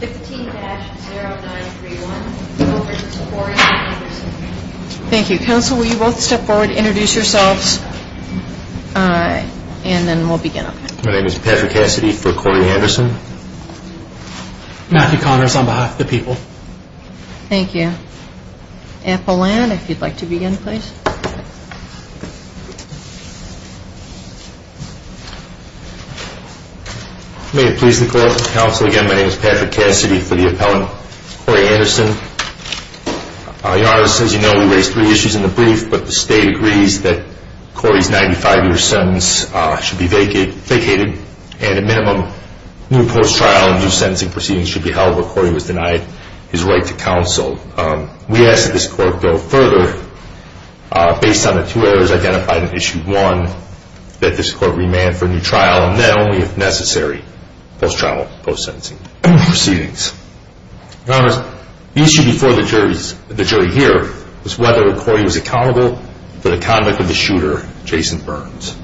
15-0931 over to Corey and Anderson Thank you. Council, will you both step forward, introduce yourselves, and then we'll begin. My name is Patrick Cassidy for Corey and Anderson. Matthew Connors on behalf of the people. Thank you. Apollon, if you'd like to begin, please. May it please the court. Council, again, my name is Patrick Cassidy for the appellant, Corey Anderson. Your Honor, as you know, we raised three issues in the brief, but the state agrees that Corey's 95-year sentence should be vacated and a minimum new post-trial and new sentencing proceedings should be held where Corey was denied his right to counsel. We ask that this court go further, based on the two errors identified in Issue 1, that this court remand for a new trial and then only, if necessary, post-trial and post-sentencing proceedings. Your Honor, the issue before the jury here was whether Corey was accountable for the convict of the shooter, Jason Burns.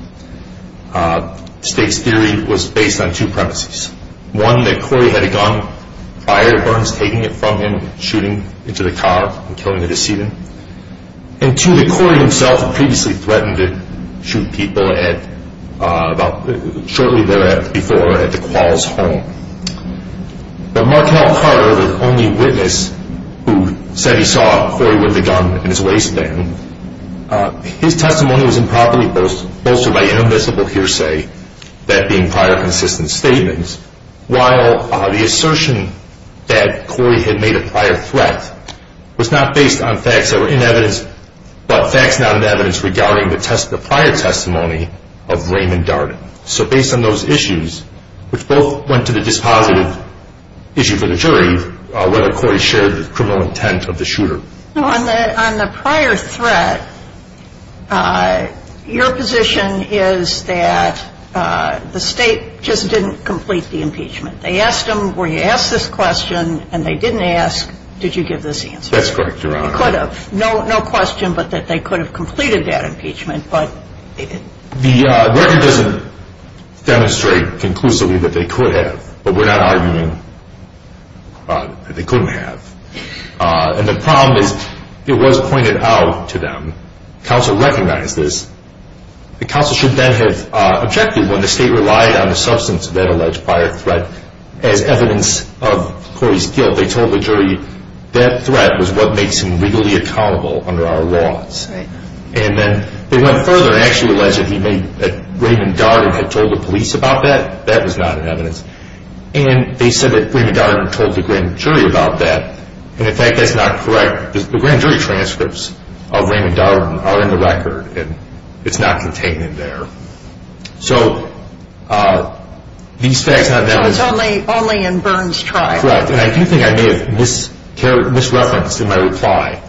The state's theory was based on two premises. One, that Corey had a gun, fired Burns, taking it from him, shooting into the car and killing the decedent. And two, that Corey himself had previously threatened to shoot people shortly before at the Quall's home. But Markell Carter, the only witness who said he saw Corey with a gun in his waistband, his testimony was improperly bolstered by inadmissible hearsay, that being prior consistent statements, while the assertion that Corey had made a prior threat was not based on facts that were in evidence, but facts not in evidence regarding the prior testimony of Raymond Darden. So based on those issues, which both went to the dispositive issue for the jury, whether Corey shared the criminal intent of the shooter. On the prior threat, your position is that the state just didn't complete the impeachment. They asked him, were you asked this question, and they didn't ask, did you give this answer. That's correct, Your Honor. They could have. No question but that they could have completed that impeachment. The record doesn't demonstrate conclusively that they could have, but we're not arguing that they couldn't have. And the problem is it was pointed out to them. Counsel recognized this. The counsel should then have objected when the state relied on the substance of that alleged prior threat as evidence of Corey's guilt. They told the jury that threat was what makes him legally accountable under our laws. And then they went further and actually alleged that Raymond Darden had told the police about that. That was not in evidence. And they said that Raymond Darden told the grand jury about that. And, in fact, that's not correct. The grand jury transcripts of Raymond Darden are in the record, and it's not contained in there. So it's only in Burns' trial. Correct. And I do think I may have misreferenced in my reply,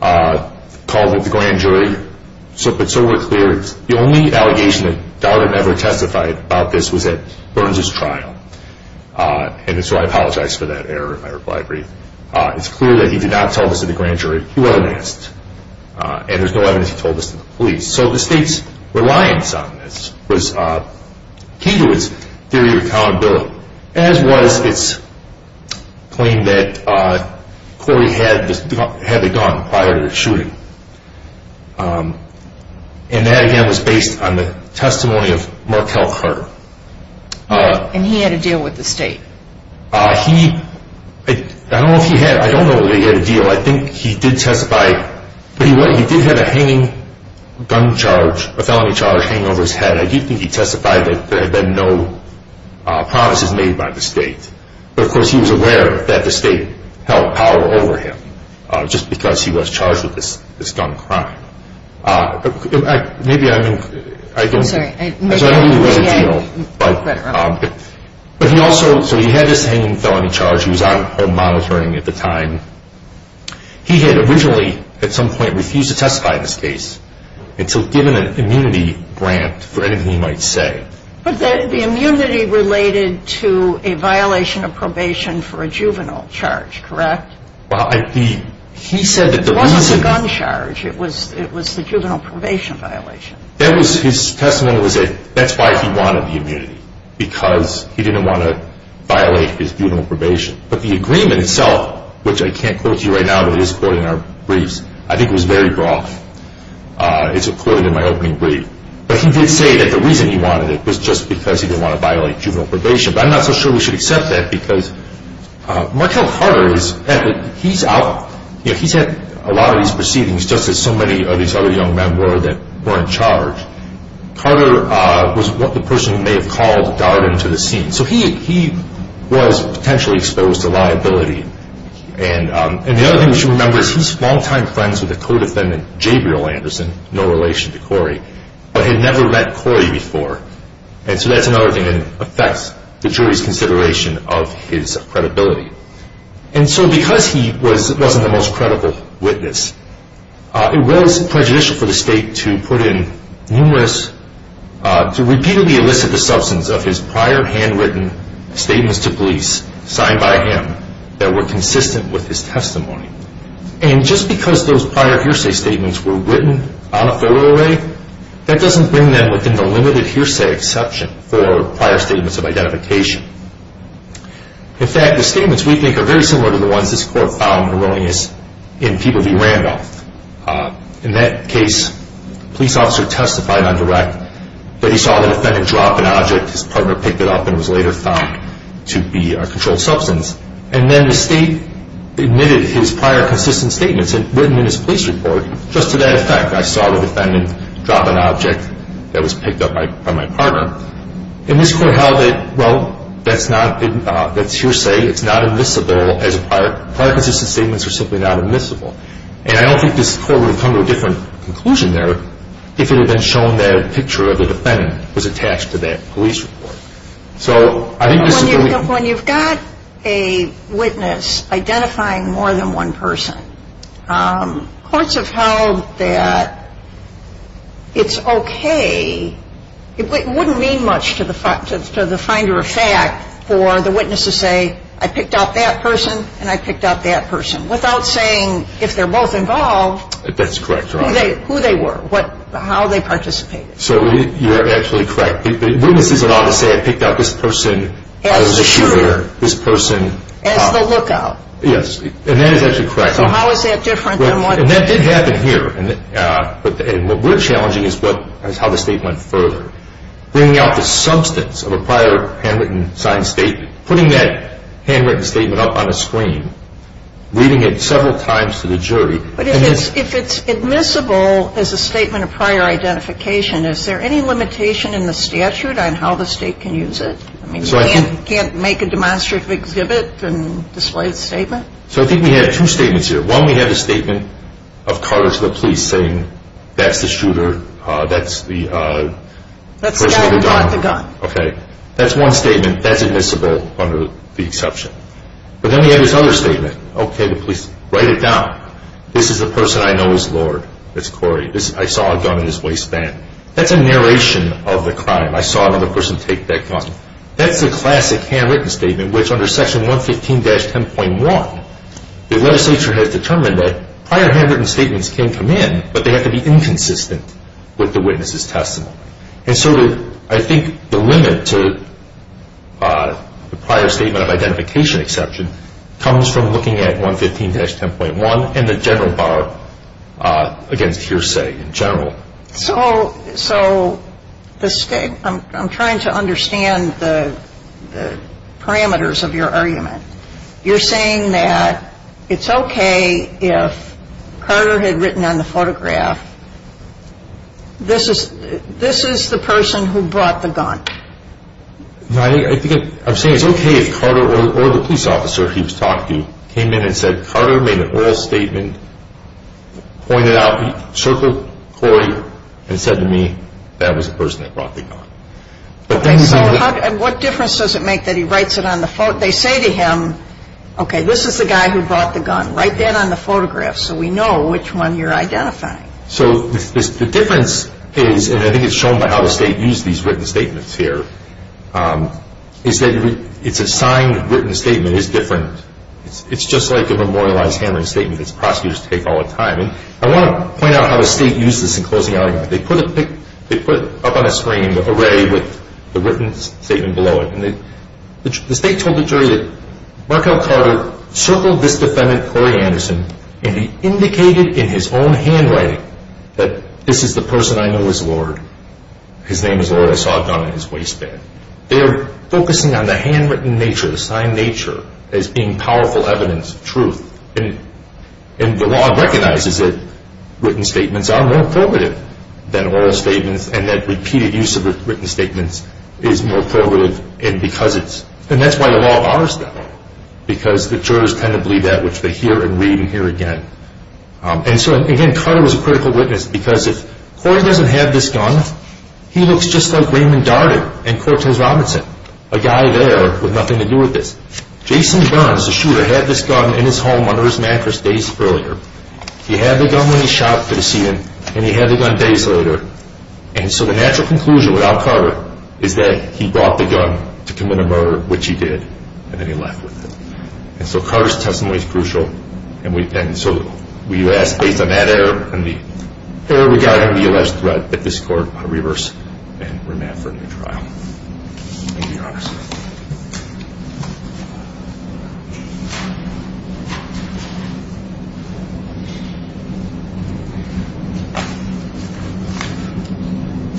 called it the grand jury. But so we're clear, the only allegation that Darden ever testified about this was at Burns' trial. And so I apologize for that error in my reply brief. It's clear that he did not tell this to the grand jury. He went and asked. And there's no evidence he told this to the police. So the state's reliance on this came to its theory of accountability, as was its claim that Corey had the gun prior to the shooting. And that, again, was based on the testimony of Markel Carter. And he had a deal with the state. He, I don't know if he had, I don't know that he had a deal. I think he did testify, but he did have a hanging gun charge, a felony charge, hanging over his head. And I do think he testified that there had been no promises made by the state. But, of course, he was aware that the state held power over him, just because he was charged with this gun crime. Maybe I mean, I don't. I'm sorry. I don't know if he had a deal. But he also, so he had this hanging felony charge. He was on home monitoring at the time. He had originally, at some point, refused to testify in this case until given an immunity grant for anything he might say. But the immunity related to a violation of probation for a juvenile charge, correct? Well, he said that there was a... It wasn't a gun charge. It was the juvenile probation violation. His testimony was that that's why he wanted the immunity, because he didn't want to violate his juvenile probation. But the agreement itself, which I can't quote to you right now, but it is quoted in our briefs, I think was very broad. It's quoted in my opening brief. But he did say that the reason he wanted it was just because he didn't want to violate juvenile probation. But I'm not so sure we should accept that, because Markell Carter, he's had a lot of these proceedings just as so many of these other young men were that were in charge. Carter was what the person may have called the guard into the scene. So he was potentially exposed to liability. And the other thing we should remember is he's longtime friends with the co-defendant Jabriel Anderson, no relation to Corey, but had never met Corey before. And so that's another thing that affects the jury's consideration of his credibility. And so because he wasn't the most credible witness, it was prejudicial for the state to put in numerous... of his prior handwritten statements to police signed by him that were consistent with his testimony. And just because those prior hearsay statements were written on a photo array, that doesn't bring them within the limited hearsay exception for prior statements of identification. In fact, the statements we think are very similar to the ones this court found erroneous in Peeble v. Randolph. In that case, the police officer testified on direct that he saw the defendant drop an object. His partner picked it up and it was later found to be a controlled substance. And then the state admitted his prior consistent statements written in his police report. Just to that effect, I saw the defendant drop an object that was picked up by my partner. And this court held that, well, that's hearsay. It's not admissible as a prior... prior consistent statements are simply not admissible. And I don't think this court would have come to a different conclusion there if it had been shown that a picture of the defendant was attached to that police report. So I think this is... When you've got a witness identifying more than one person, courts have held that it's okay. It wouldn't mean much to the finder of fact for the witness to say, I picked up that person and I picked up that person without saying, if they're both involved... That's correct, Your Honor. ...who they were, how they participated. So you're actually correct. Witnesses are not to say, I picked up this person... As the shooter. ...this person... As the lookout. Yes. And that is actually correct. So how is that different than what... And that did happen here. And what we're challenging is what... is how the state went further. Bringing out the substance of a prior handwritten signed statement, putting that handwritten statement up on a screen, reading it several times to the jury... But if it's admissible as a statement of prior identification, is there any limitation in the statute on how the state can use it? I mean, you can't make a demonstrative exhibit and display the statement? So I think we have two statements here. One, we have the statement of Carter to the police saying, that's the shooter, that's the... That's the guy who got the gun. Okay. That's one statement. That's admissible under the exception. But then we have this other statement. Okay, the police write it down. This is the person I know as Lord. That's Corey. I saw a gun in his waistband. That's a narration of the crime. I saw another person take that gun. That's the classic handwritten statement, which under Section 115-10.1, the legislature has determined that prior handwritten statements can come in, but they have to be inconsistent with the witness's testimony. And so I think the limit to the prior statement of identification exception comes from looking at 115-10.1 and the general bar against hearsay in general. So I'm trying to understand the parameters of your argument. You're saying that it's okay if Carter had written on the photograph, this is the person who brought the gun. I'm saying it's okay if Carter or the police officer he was talking to came in and said Carter made an oral statement, pointed out, circled Corey and said to me, that was the person that brought the gun. Okay, so what difference does it make that he writes it on the photograph? They say to him, okay, this is the guy who brought the gun. Write that on the photograph so we know which one you're identifying. So the difference is, and I think it's shown by how the State used these written statements here, is that it's a signed written statement is different. It's just like a memorialized handwritten statement that prosecutors take all the time. I want to point out how the State used this in closing arguments. They put it up on a screen array with the written statement below it. The State told the jury that Markell Carter circled this defendant, Corey Anderson, and he indicated in his own handwriting that this is the person I know as Lord. His name is Lord. I saw a gun in his waistband. They are focusing on the handwritten nature, the signed nature, as being powerful evidence, truth. And the law recognizes that written statements are more formative than oral statements and that repeated use of written statements is more formative. And that's why the law bars them because the jurors tend to believe that, which they hear and read and hear again. And so, again, Carter was a critical witness because if Corey doesn't have this gun, he looks just like Raymond Darden and Cortez Robinson, a guy there with nothing to do with this. Jason Burns, the shooter, had this gun in his home under his mattress days earlier. He had the gun when he shot to see him, and he had the gun days later. And so the natural conclusion without Carter is that he brought the gun to commit a murder, which he did, and then he left with it. And so Carter's testimony is crucial. And so we ask, based on that error and the error regarding the alleged threat, that this court reverse and remand for a new trial. Thank you, Your Honor.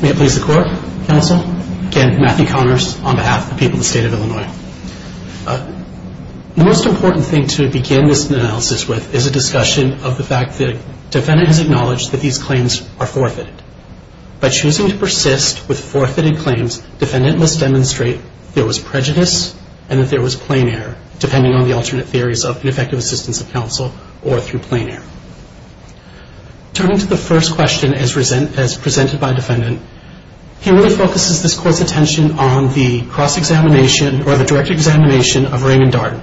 May it please the Court, Counsel? Again, Matthew Connors on behalf of the people of the State of Illinois. The most important thing to begin this analysis with is a discussion of the fact that the defendant has acknowledged that these claims are forfeited. By choosing to persist with forfeited claims, defendant must demonstrate there was prejudice and that there was plain error, depending on the alternate theories of ineffective assistance of counsel or through plain error. Turning to the first question as presented by defendant, he really focuses this court's attention on the cross-examination or the direct examination of Raymond Darden.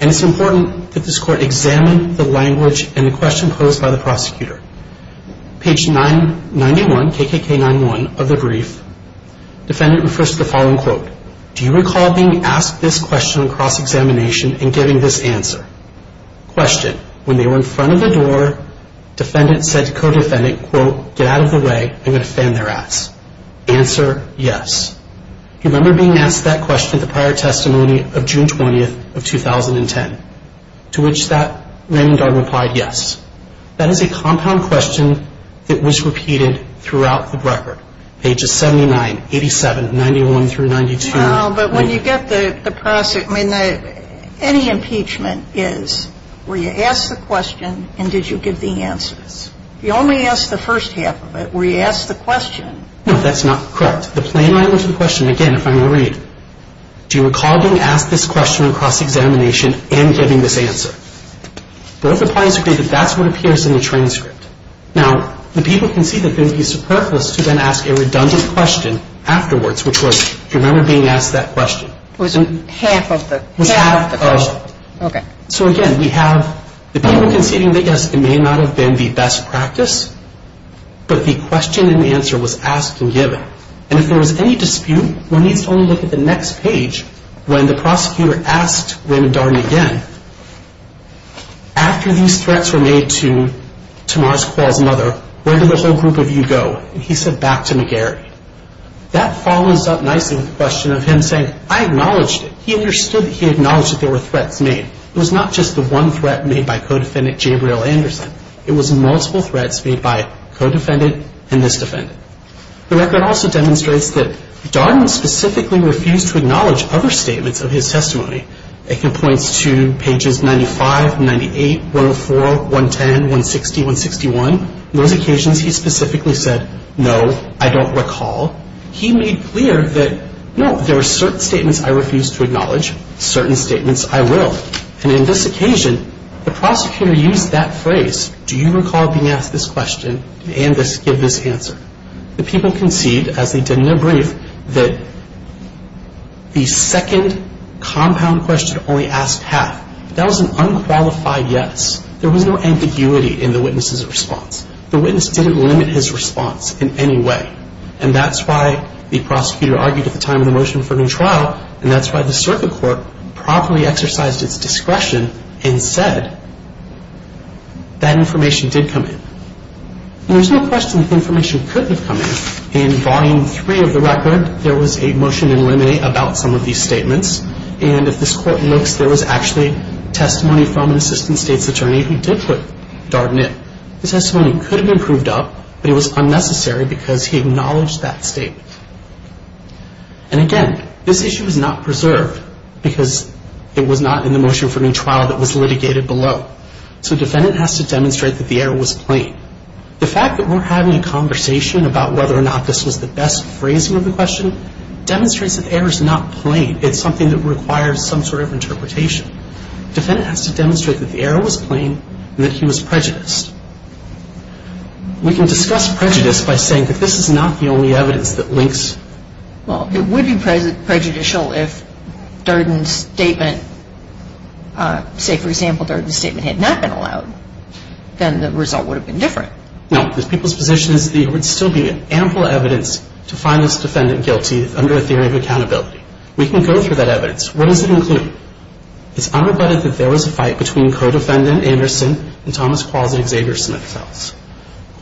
And it's important that this court examine the language and the question posed by the prosecutor. Page 91, KKK91 of the brief, defendant refers to the following quote, do you recall being asked this question on cross-examination and giving this answer? Question, when they were in front of the door, defendant said to co-defendant, quote, get out of the way, I'm going to fan their ass. Answer, yes. Do you remember being asked that question at the prior testimony of June 20th of 2010? To which that Raymond Darden replied, yes. That is a compound question that was repeated throughout the record. Pages 79, 87, 91 through 92. No, but when you get the prosecutor, I mean, any impeachment is, were you asked the question and did you give the answers? You only asked the first half of it. Were you asked the question? No, that's not correct. The plain language of the question, again, if I may read, do you recall being asked this question on cross-examination and giving this answer? Both the plaintiffs agreed that that's what appears in the transcript. Now, the people conceded that it would be superfluous to then ask a redundant question afterwards, which was, do you remember being asked that question? It was half of the question. It was half of the question. Okay. So, again, we have the people conceding they guessed it may not have been the best practice, but the question and answer was asked and given. And if there was any dispute, one needs to only look at the next page, when the prosecutor asked Raymond Darden again, after these threats were made to Tamar's, Quall's mother, where did the whole group of you go? And he said, back to McGarry. That follows up nicely with the question of him saying, I acknowledged it. He understood that he acknowledged that there were threats made. It was not just the one threat made by co-defendant Gabriel Anderson. It was multiple threats made by co-defendant and this defendant. The record also demonstrates that Darden specifically refused to acknowledge other statements of his testimony. It points to pages 95, 98, 104, 110, 160, 161. In those occasions, he specifically said, no, I don't recall. He made clear that, no, there were certain statements I refused to acknowledge, certain statements I will. And in this occasion, the prosecutor used that phrase, do you recall being asked this question and give this answer? The people conceded, as they did in their brief, that the second compound question only asked half. That was an unqualified yes. There was no ambiguity in the witness's response. The witness didn't limit his response in any way. And that's why the prosecutor argued at the time of the motion for a new trial, and that's why the circuit court properly exercised its discretion and said that information did come in. And there's no question that the information couldn't have come in. In volume three of the record, there was a motion to eliminate about some of these statements. And if this court looks, there was actually testimony from an assistant state's attorney who did put Darden in. His testimony could have been proved up, but it was unnecessary because he acknowledged that statement. And again, this issue is not preserved because it was not in the motion for a new trial that was litigated below. So defendant has to demonstrate that the error was plain. The fact that we're having a conversation about whether or not this was the best phrasing of the question demonstrates that the error is not plain. It's something that requires some sort of interpretation. Defendant has to demonstrate that the error was plain and that he was prejudiced. We can discuss prejudice by saying that this is not the only evidence that links. Well, it would be prejudicial if Darden's statement, say, for example, Darden's statement had not been allowed. Then the result would have been different. No. The people's position is that there would still be ample evidence to find this defendant guilty under a theory of accountability. We can go through that evidence. What does it include? It's unrebutted that there was a fight between co-defendant Anderson and Thomas Qualls at Xavier Smith's house.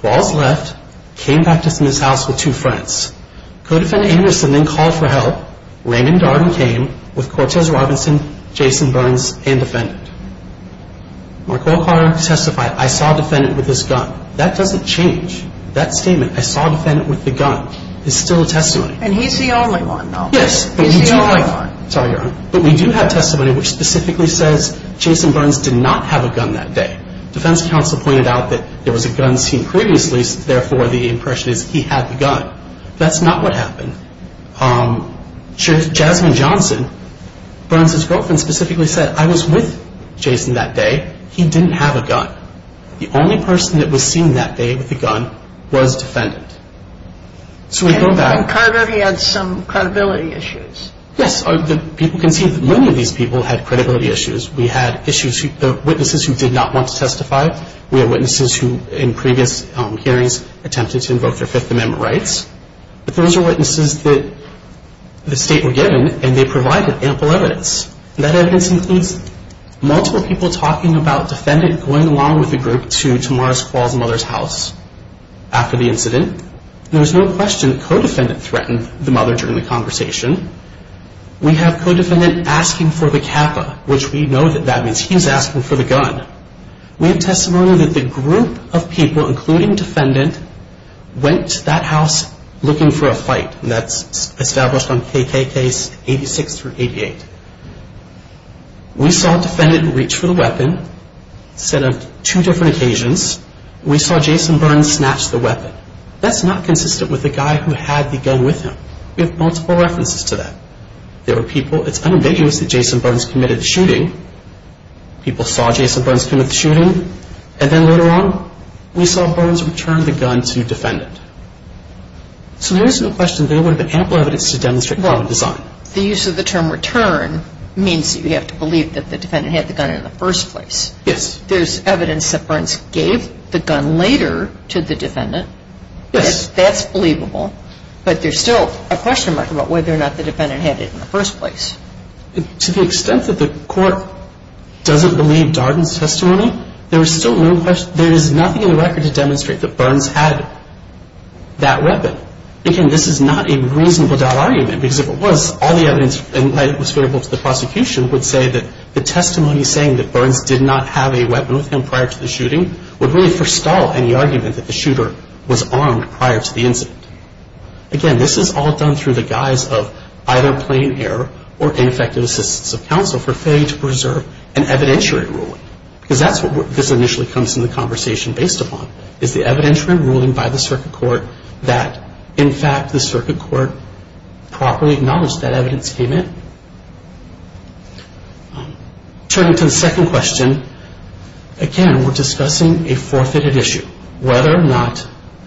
Qualls left, came back to Smith's house with two friends. Co-defendant Anderson then called for help. Raymond Darden came with Cortez Robinson, Jason Burns, and defendant. Mark O'Connor testified, I saw defendant with his gun. That doesn't change. That statement, I saw defendant with the gun, is still a testimony. And he's the only one, though. Yes. He's the only one. Sorry, Your Honor. But we do have testimony which specifically says Jason Burns did not have a gun that day. Defense counsel pointed out that there was a gun seen previously. Therefore, the impression is he had the gun. That's not what happened. Jasmine Johnson, Burns' girlfriend, specifically said, I was with Jason that day. He didn't have a gun. The only person that was seen that day with a gun was defendant. So we go back. And Carter, he had some credibility issues. Yes. People can see that many of these people had credibility issues. We had witnesses who did not want to testify. We have witnesses who, in previous hearings, attempted to invoke their Fifth Amendment rights. But those are witnesses that the state were given, and they provided ample evidence. That evidence includes multiple people talking about defendant going along with the group to Tamaris Quall's mother's house after the incident. There was no question the co-defendant threatened the mother during the conversation. We have co-defendant asking for the Kappa, which we know that that means he's asking for the gun. We have testimony that the group of people, including defendant, went to that house looking for a fight. That's established on KKK's 86 through 88. We saw defendant reach for the weapon. Instead of two different occasions, we saw Jason Burns snatch the weapon. That's not consistent with the guy who had the gun with him. We have multiple references to that. There were people. It's unambiguous that Jason Burns committed the shooting. People saw Jason Burns commit the shooting. And then later on, we saw Burns return the gun to defendant. So there is no question there would have been ample evidence to demonstrate violent design. The use of the term return means that you have to believe that the defendant had the gun in the first place. Yes. There's evidence that Burns gave the gun later to the defendant. Yes. That's believable. But there's still a question mark about whether or not the defendant had it in the first place. To the extent that the court doesn't believe Darden's testimony, there is nothing in the record to demonstrate that Burns had that weapon. But, again, this is not a reasonable doubt argument. Because if it was, all the evidence that was available to the prosecution would say that the testimony saying that Burns did not have a weapon with him prior to the shooting would really forestall any argument that the shooter was armed prior to the incident. Again, this is all done through the guise of either plain error or ineffective assistance of counsel for failing to preserve an evidentiary ruling. Because that's what this initially comes to the conversation based upon, is the evidentiary ruling by the circuit court that, in fact, the circuit court properly acknowledged that evidence came in? Turning to the second question, again, we're discussing a forfeited issue, whether or not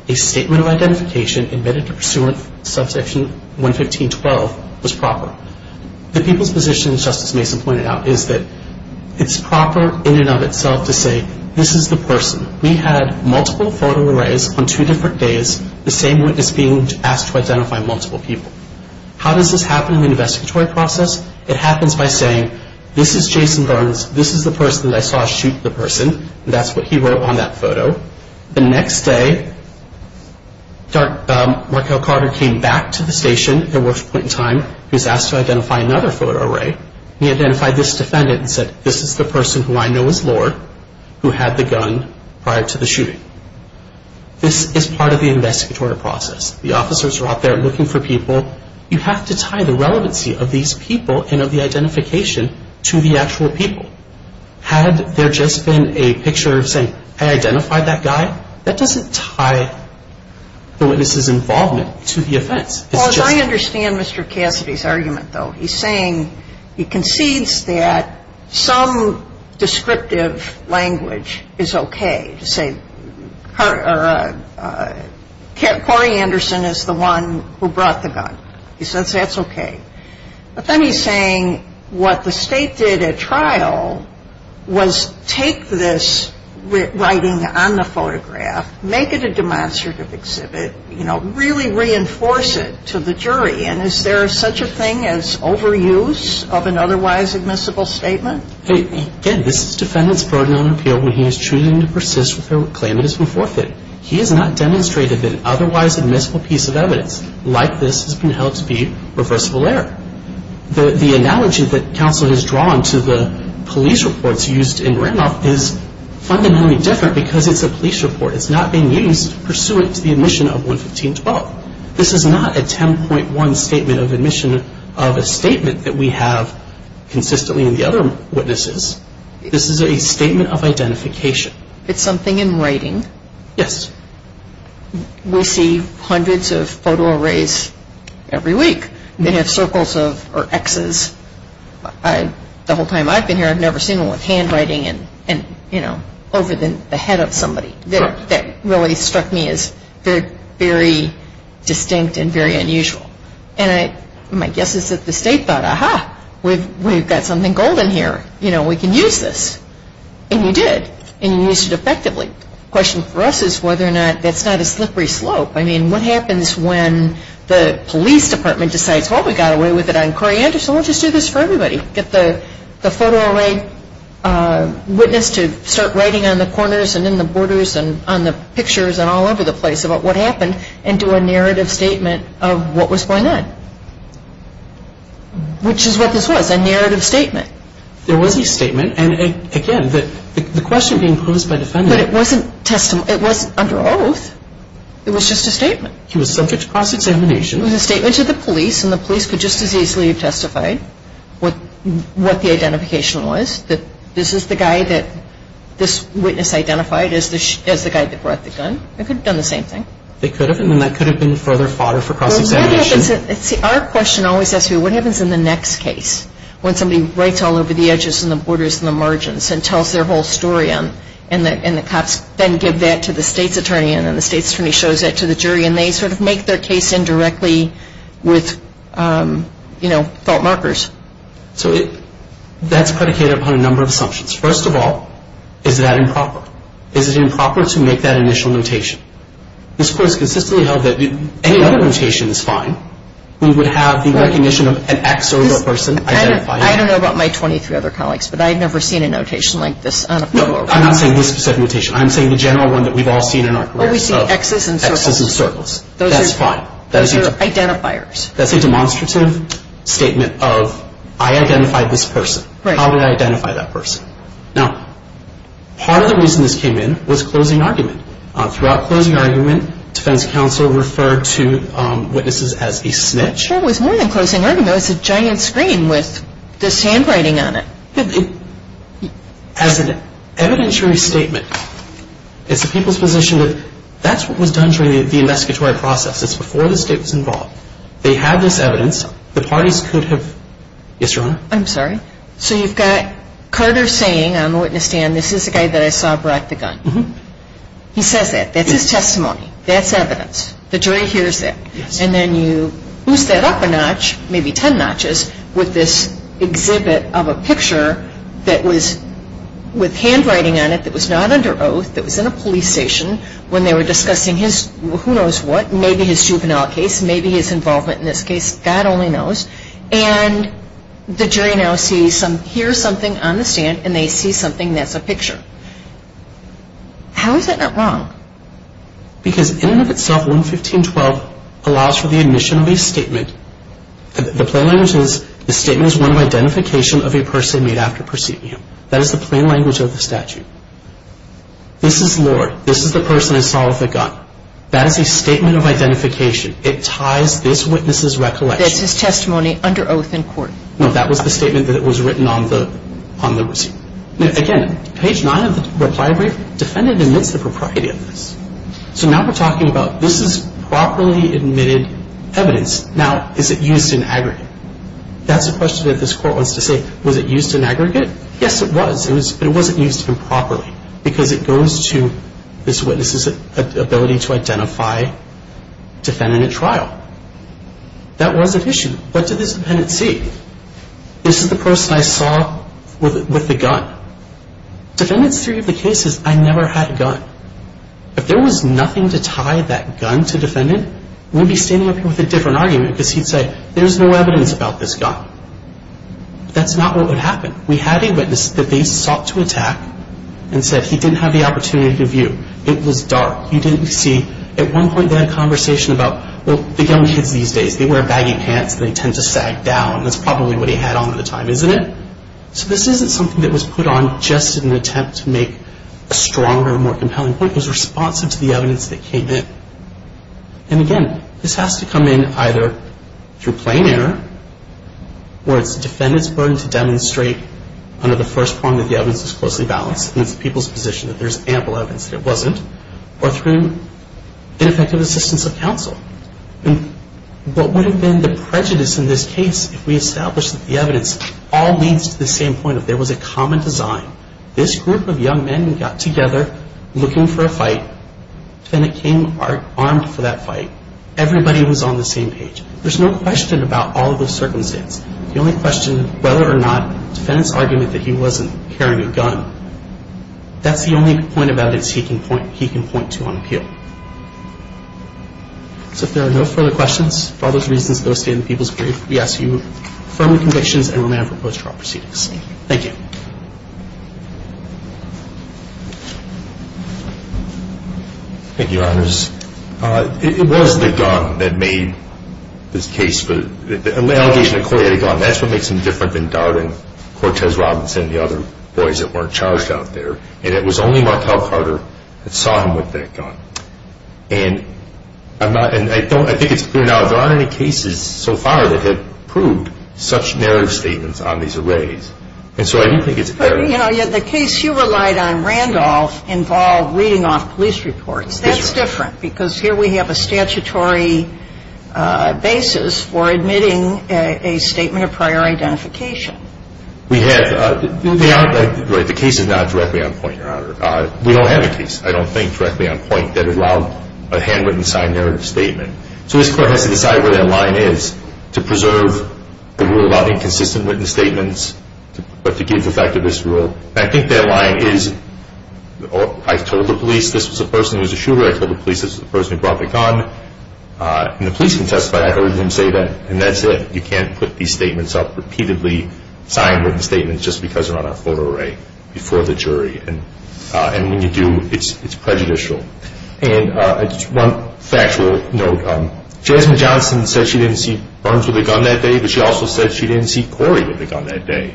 a statement of identification admitted to pursuant to Subsection 115.12 was proper. The people's position, as Justice Mason pointed out, is that it's proper in and of itself to say this is the person. We had multiple photo arrays on two different days, the same witness being asked to identify multiple people. How does this happen in the investigatory process? It happens by saying, this is Jason Burns. This is the person that I saw shoot the person. That's what he wrote on that photo. The next day, Markel Carter came back to the station at the worst point in time. He was asked to identify another photo array. He identified this defendant and said, this is the person who I know is Lord, who had the gun prior to the shooting. This is part of the investigatory process. The officers are out there looking for people. You have to tie the relevancy of these people and of the identification to the actual people. Had there just been a picture saying, I identified that guy, that doesn't tie the witness's involvement to the offense. Well, as I understand Mr. Cassidy's argument, though, he's saying he concedes that some descriptive language is okay. To say, Corey Anderson is the one who brought the gun. He says that's okay. But then he's saying what the state did at trial was take this writing on the photograph, make it a demonstrative exhibit, really reinforce it to the jury. And is there such a thing as overuse of an otherwise admissible statement? Again, this is defendant's burden on appeal when he is choosing to persist with a claim that has been forfeited. He has not demonstrated an otherwise admissible piece of evidence. Like this has been held to be reversible error. The analogy that counsel has drawn to the police reports used in Randolph is fundamentally different because it's a police report. It's not being used pursuant to the admission of 115-12. This is not a 10.1 statement of admission of a statement that we have consistently in the other witnesses. This is a statement of identification. It's something in writing? Yes. We see hundreds of photo arrays every week. They have circles or X's. The whole time I've been here, I've never seen one with handwriting over the head of somebody. That really struck me as very distinct and very unusual. And my guess is that the state thought, aha, we've got something golden here. We can use this. And you did. And you used it effectively. The question for us is whether or not that's not a slippery slope. I mean, what happens when the police department decides, well, we got away with it on Coriander, so we'll just do this for everybody. Get the photo array witness to start writing on the corners and in the borders and on the pictures and all over the place about what happened and do a narrative statement of what was going on. Which is what this was, a narrative statement. There was a statement. And, again, the question being posed by defendants. But it wasn't under oath. It was just a statement. He was subject to cross-examination. It was a statement to the police. And the police could just as easily have testified what the identification was, that this is the guy that this witness identified as the guy that brought the gun. They could have done the same thing. They could have. And then that could have been further fodder for cross-examination. See, our question always asks me, what happens in the next case when somebody writes all over the edges and the borders and the margins and tells their whole story and the cops then give that to the state's attorney and then the state's attorney shows that to the jury and they sort of make their case indirectly with, you know, fault markers. So that's predicated upon a number of assumptions. First of all, is that improper? Is it improper to make that initial notation? This Court has consistently held that any other notation is fine. We would have the recognition of an X or a person identifying. I don't know about my 23 other colleagues, but I've never seen a notation like this. I'm not saying this specific notation. I'm saying the general one that we've all seen in our careers. Well, we see Xs and circles. Xs and circles. That's fine. Those are identifiers. That's a demonstrative statement of I identified this person. How would I identify that person? Now, part of the reason this came in was closing argument. Throughout closing argument, defense counsel referred to witnesses as a snitch. It was more than closing argument. It was a giant screen with this handwriting on it. As an evidentiary statement, it's the people's position that that's what was done during the investigatory process. It's before the state was involved. They had this evidence. The parties could have yes, Your Honor? I'm sorry? So you've got Carter saying on the witness stand, this is the guy that I saw brought the gun. He says that. That's his testimony. That's evidence. The jury hears that. Yes. And then you boost that up a notch, maybe ten notches, with this exhibit of a picture that was with handwriting on it that was not under oath, that was in a police station when they were discussing his who knows what, maybe his juvenile case, maybe his involvement in this case. God only knows. And the jury now hears something on the stand, and they see something that's a picture. How is that not wrong? Because in and of itself, 115.12 allows for the admission of a statement. The plain language is the statement is one of identification of a person made after perceiving him. That is the plain language of the statute. This is Lord. This is the person I saw with the gun. That is a statement of identification. It ties this witness's recollection. That's his testimony under oath in court. No, that was the statement that was written on the receipt. Again, page nine of the reply brief, defendant admits the propriety of this. So now we're talking about this is properly admitted evidence. Now, is it used in aggregate? That's the question that this court wants to say. Was it used in aggregate? Yes, it was. But it wasn't used improperly because it goes to this witness's ability to identify defendant at trial. That was an issue. What did this defendant see? This is the person I saw with the gun. Defendant's theory of the case is I never had a gun. If there was nothing to tie that gun to defendant, we'd be standing up here with a different argument because he'd say there's no evidence about this gun. That's not what would happen. We had a witness that they sought to attack and said he didn't have the opportunity to view. It was dark. He didn't see. At one point, they had a conversation about, well, the young kids these days, they wear baggy pants and they tend to sag down. That's probably what he had on at the time, isn't it? So this isn't something that was put on just in an attempt to make a stronger, more compelling point. It was responsive to the evidence that came in. And again, this has to come in either through plain error or it's the defendant's burden to demonstrate under the first prong that the evidence is closely balanced, and it's the people's position that there's ample evidence that it wasn't, or through ineffective assistance of counsel. And what would have been the prejudice in this case if we established that the evidence all leads to the same point, that there was a common design. This group of young men got together looking for a fight. The defendant came armed for that fight. Everybody was on the same page. There's no question about all of those circumstances. The only question, whether or not the defendant's argument that he wasn't carrying a gun, that's the only point about it he can point to on appeal. So if there are no further questions, for all those reasons, go stay in the People's Brief. We ask that you affirm the convictions and remain for post-trial proceedings. Thank you. Thank you, Your Honors. It was the gun that made this case, the allegation that Corey had a gun. That's what makes him different than Darwin, Cortez, Robinson, and the other boys that weren't charged out there. And it was only Martel Carter that saw him with that gun. And I think it's clear now, there aren't any cases so far that have proved such narrative statements on these arrays. And so I do think it's clear. But, you know, the case you relied on, Randolph, involved reading off police reports. That's different because here we have a statutory basis for admitting a statement of prior identification. We have. The case is not directly on point, Your Honor. We don't have a case, I don't think, directly on point that allowed a handwritten, signed narrative statement. So this Court has to decide where that line is to preserve the rule about inconsistent written statements, but to give the fact of this rule. And I think that line is, I told the police this was a person who was a shooter. I told the police this was a person who brought the gun. And the police can testify. I heard them say that. And that's it. You can't put these statements up repeatedly, signed written statements, just because they're on a photo array before the jury. And when you do, it's prejudicial. And just one factual note, Jasmine Johnson said she didn't see Burns with a gun that day, but she also said she didn't see Corey with a gun that day.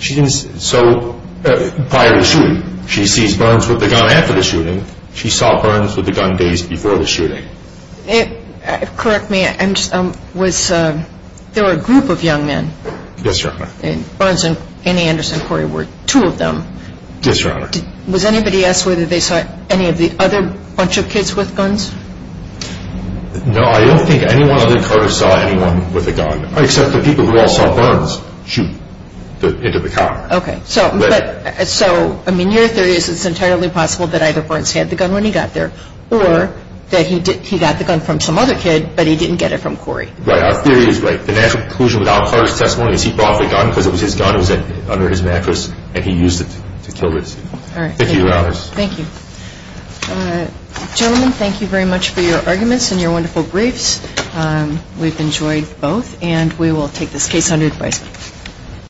So prior to the shooting, she sees Burns with a gun after the shooting. She saw Burns with a gun days before the shooting. Correct me, there were a group of young men. Yes, Your Honor. Burns and Anderson and Corey were two of them. Yes, Your Honor. Was anybody asked whether they saw any of the other bunch of kids with guns? No, I don't think anyone other than Carter saw anyone with a gun, except the people who all saw Burns shoot into the car. Okay. So, I mean, your theory is it's entirely possible that either Burns had the gun when he got there or that he got the gun from some other kid, but he didn't get it from Corey. Right. Our theory is right. The natural conclusion without Carter's testimony is he brought the gun because it was his gun, it was under his mattress, and he used it to kill his people. All right. Thank you, Your Honors. Thank you. Gentlemen, thank you very much for your arguments and your wonderful briefs. We've enjoyed both, and we will take this case under advisement.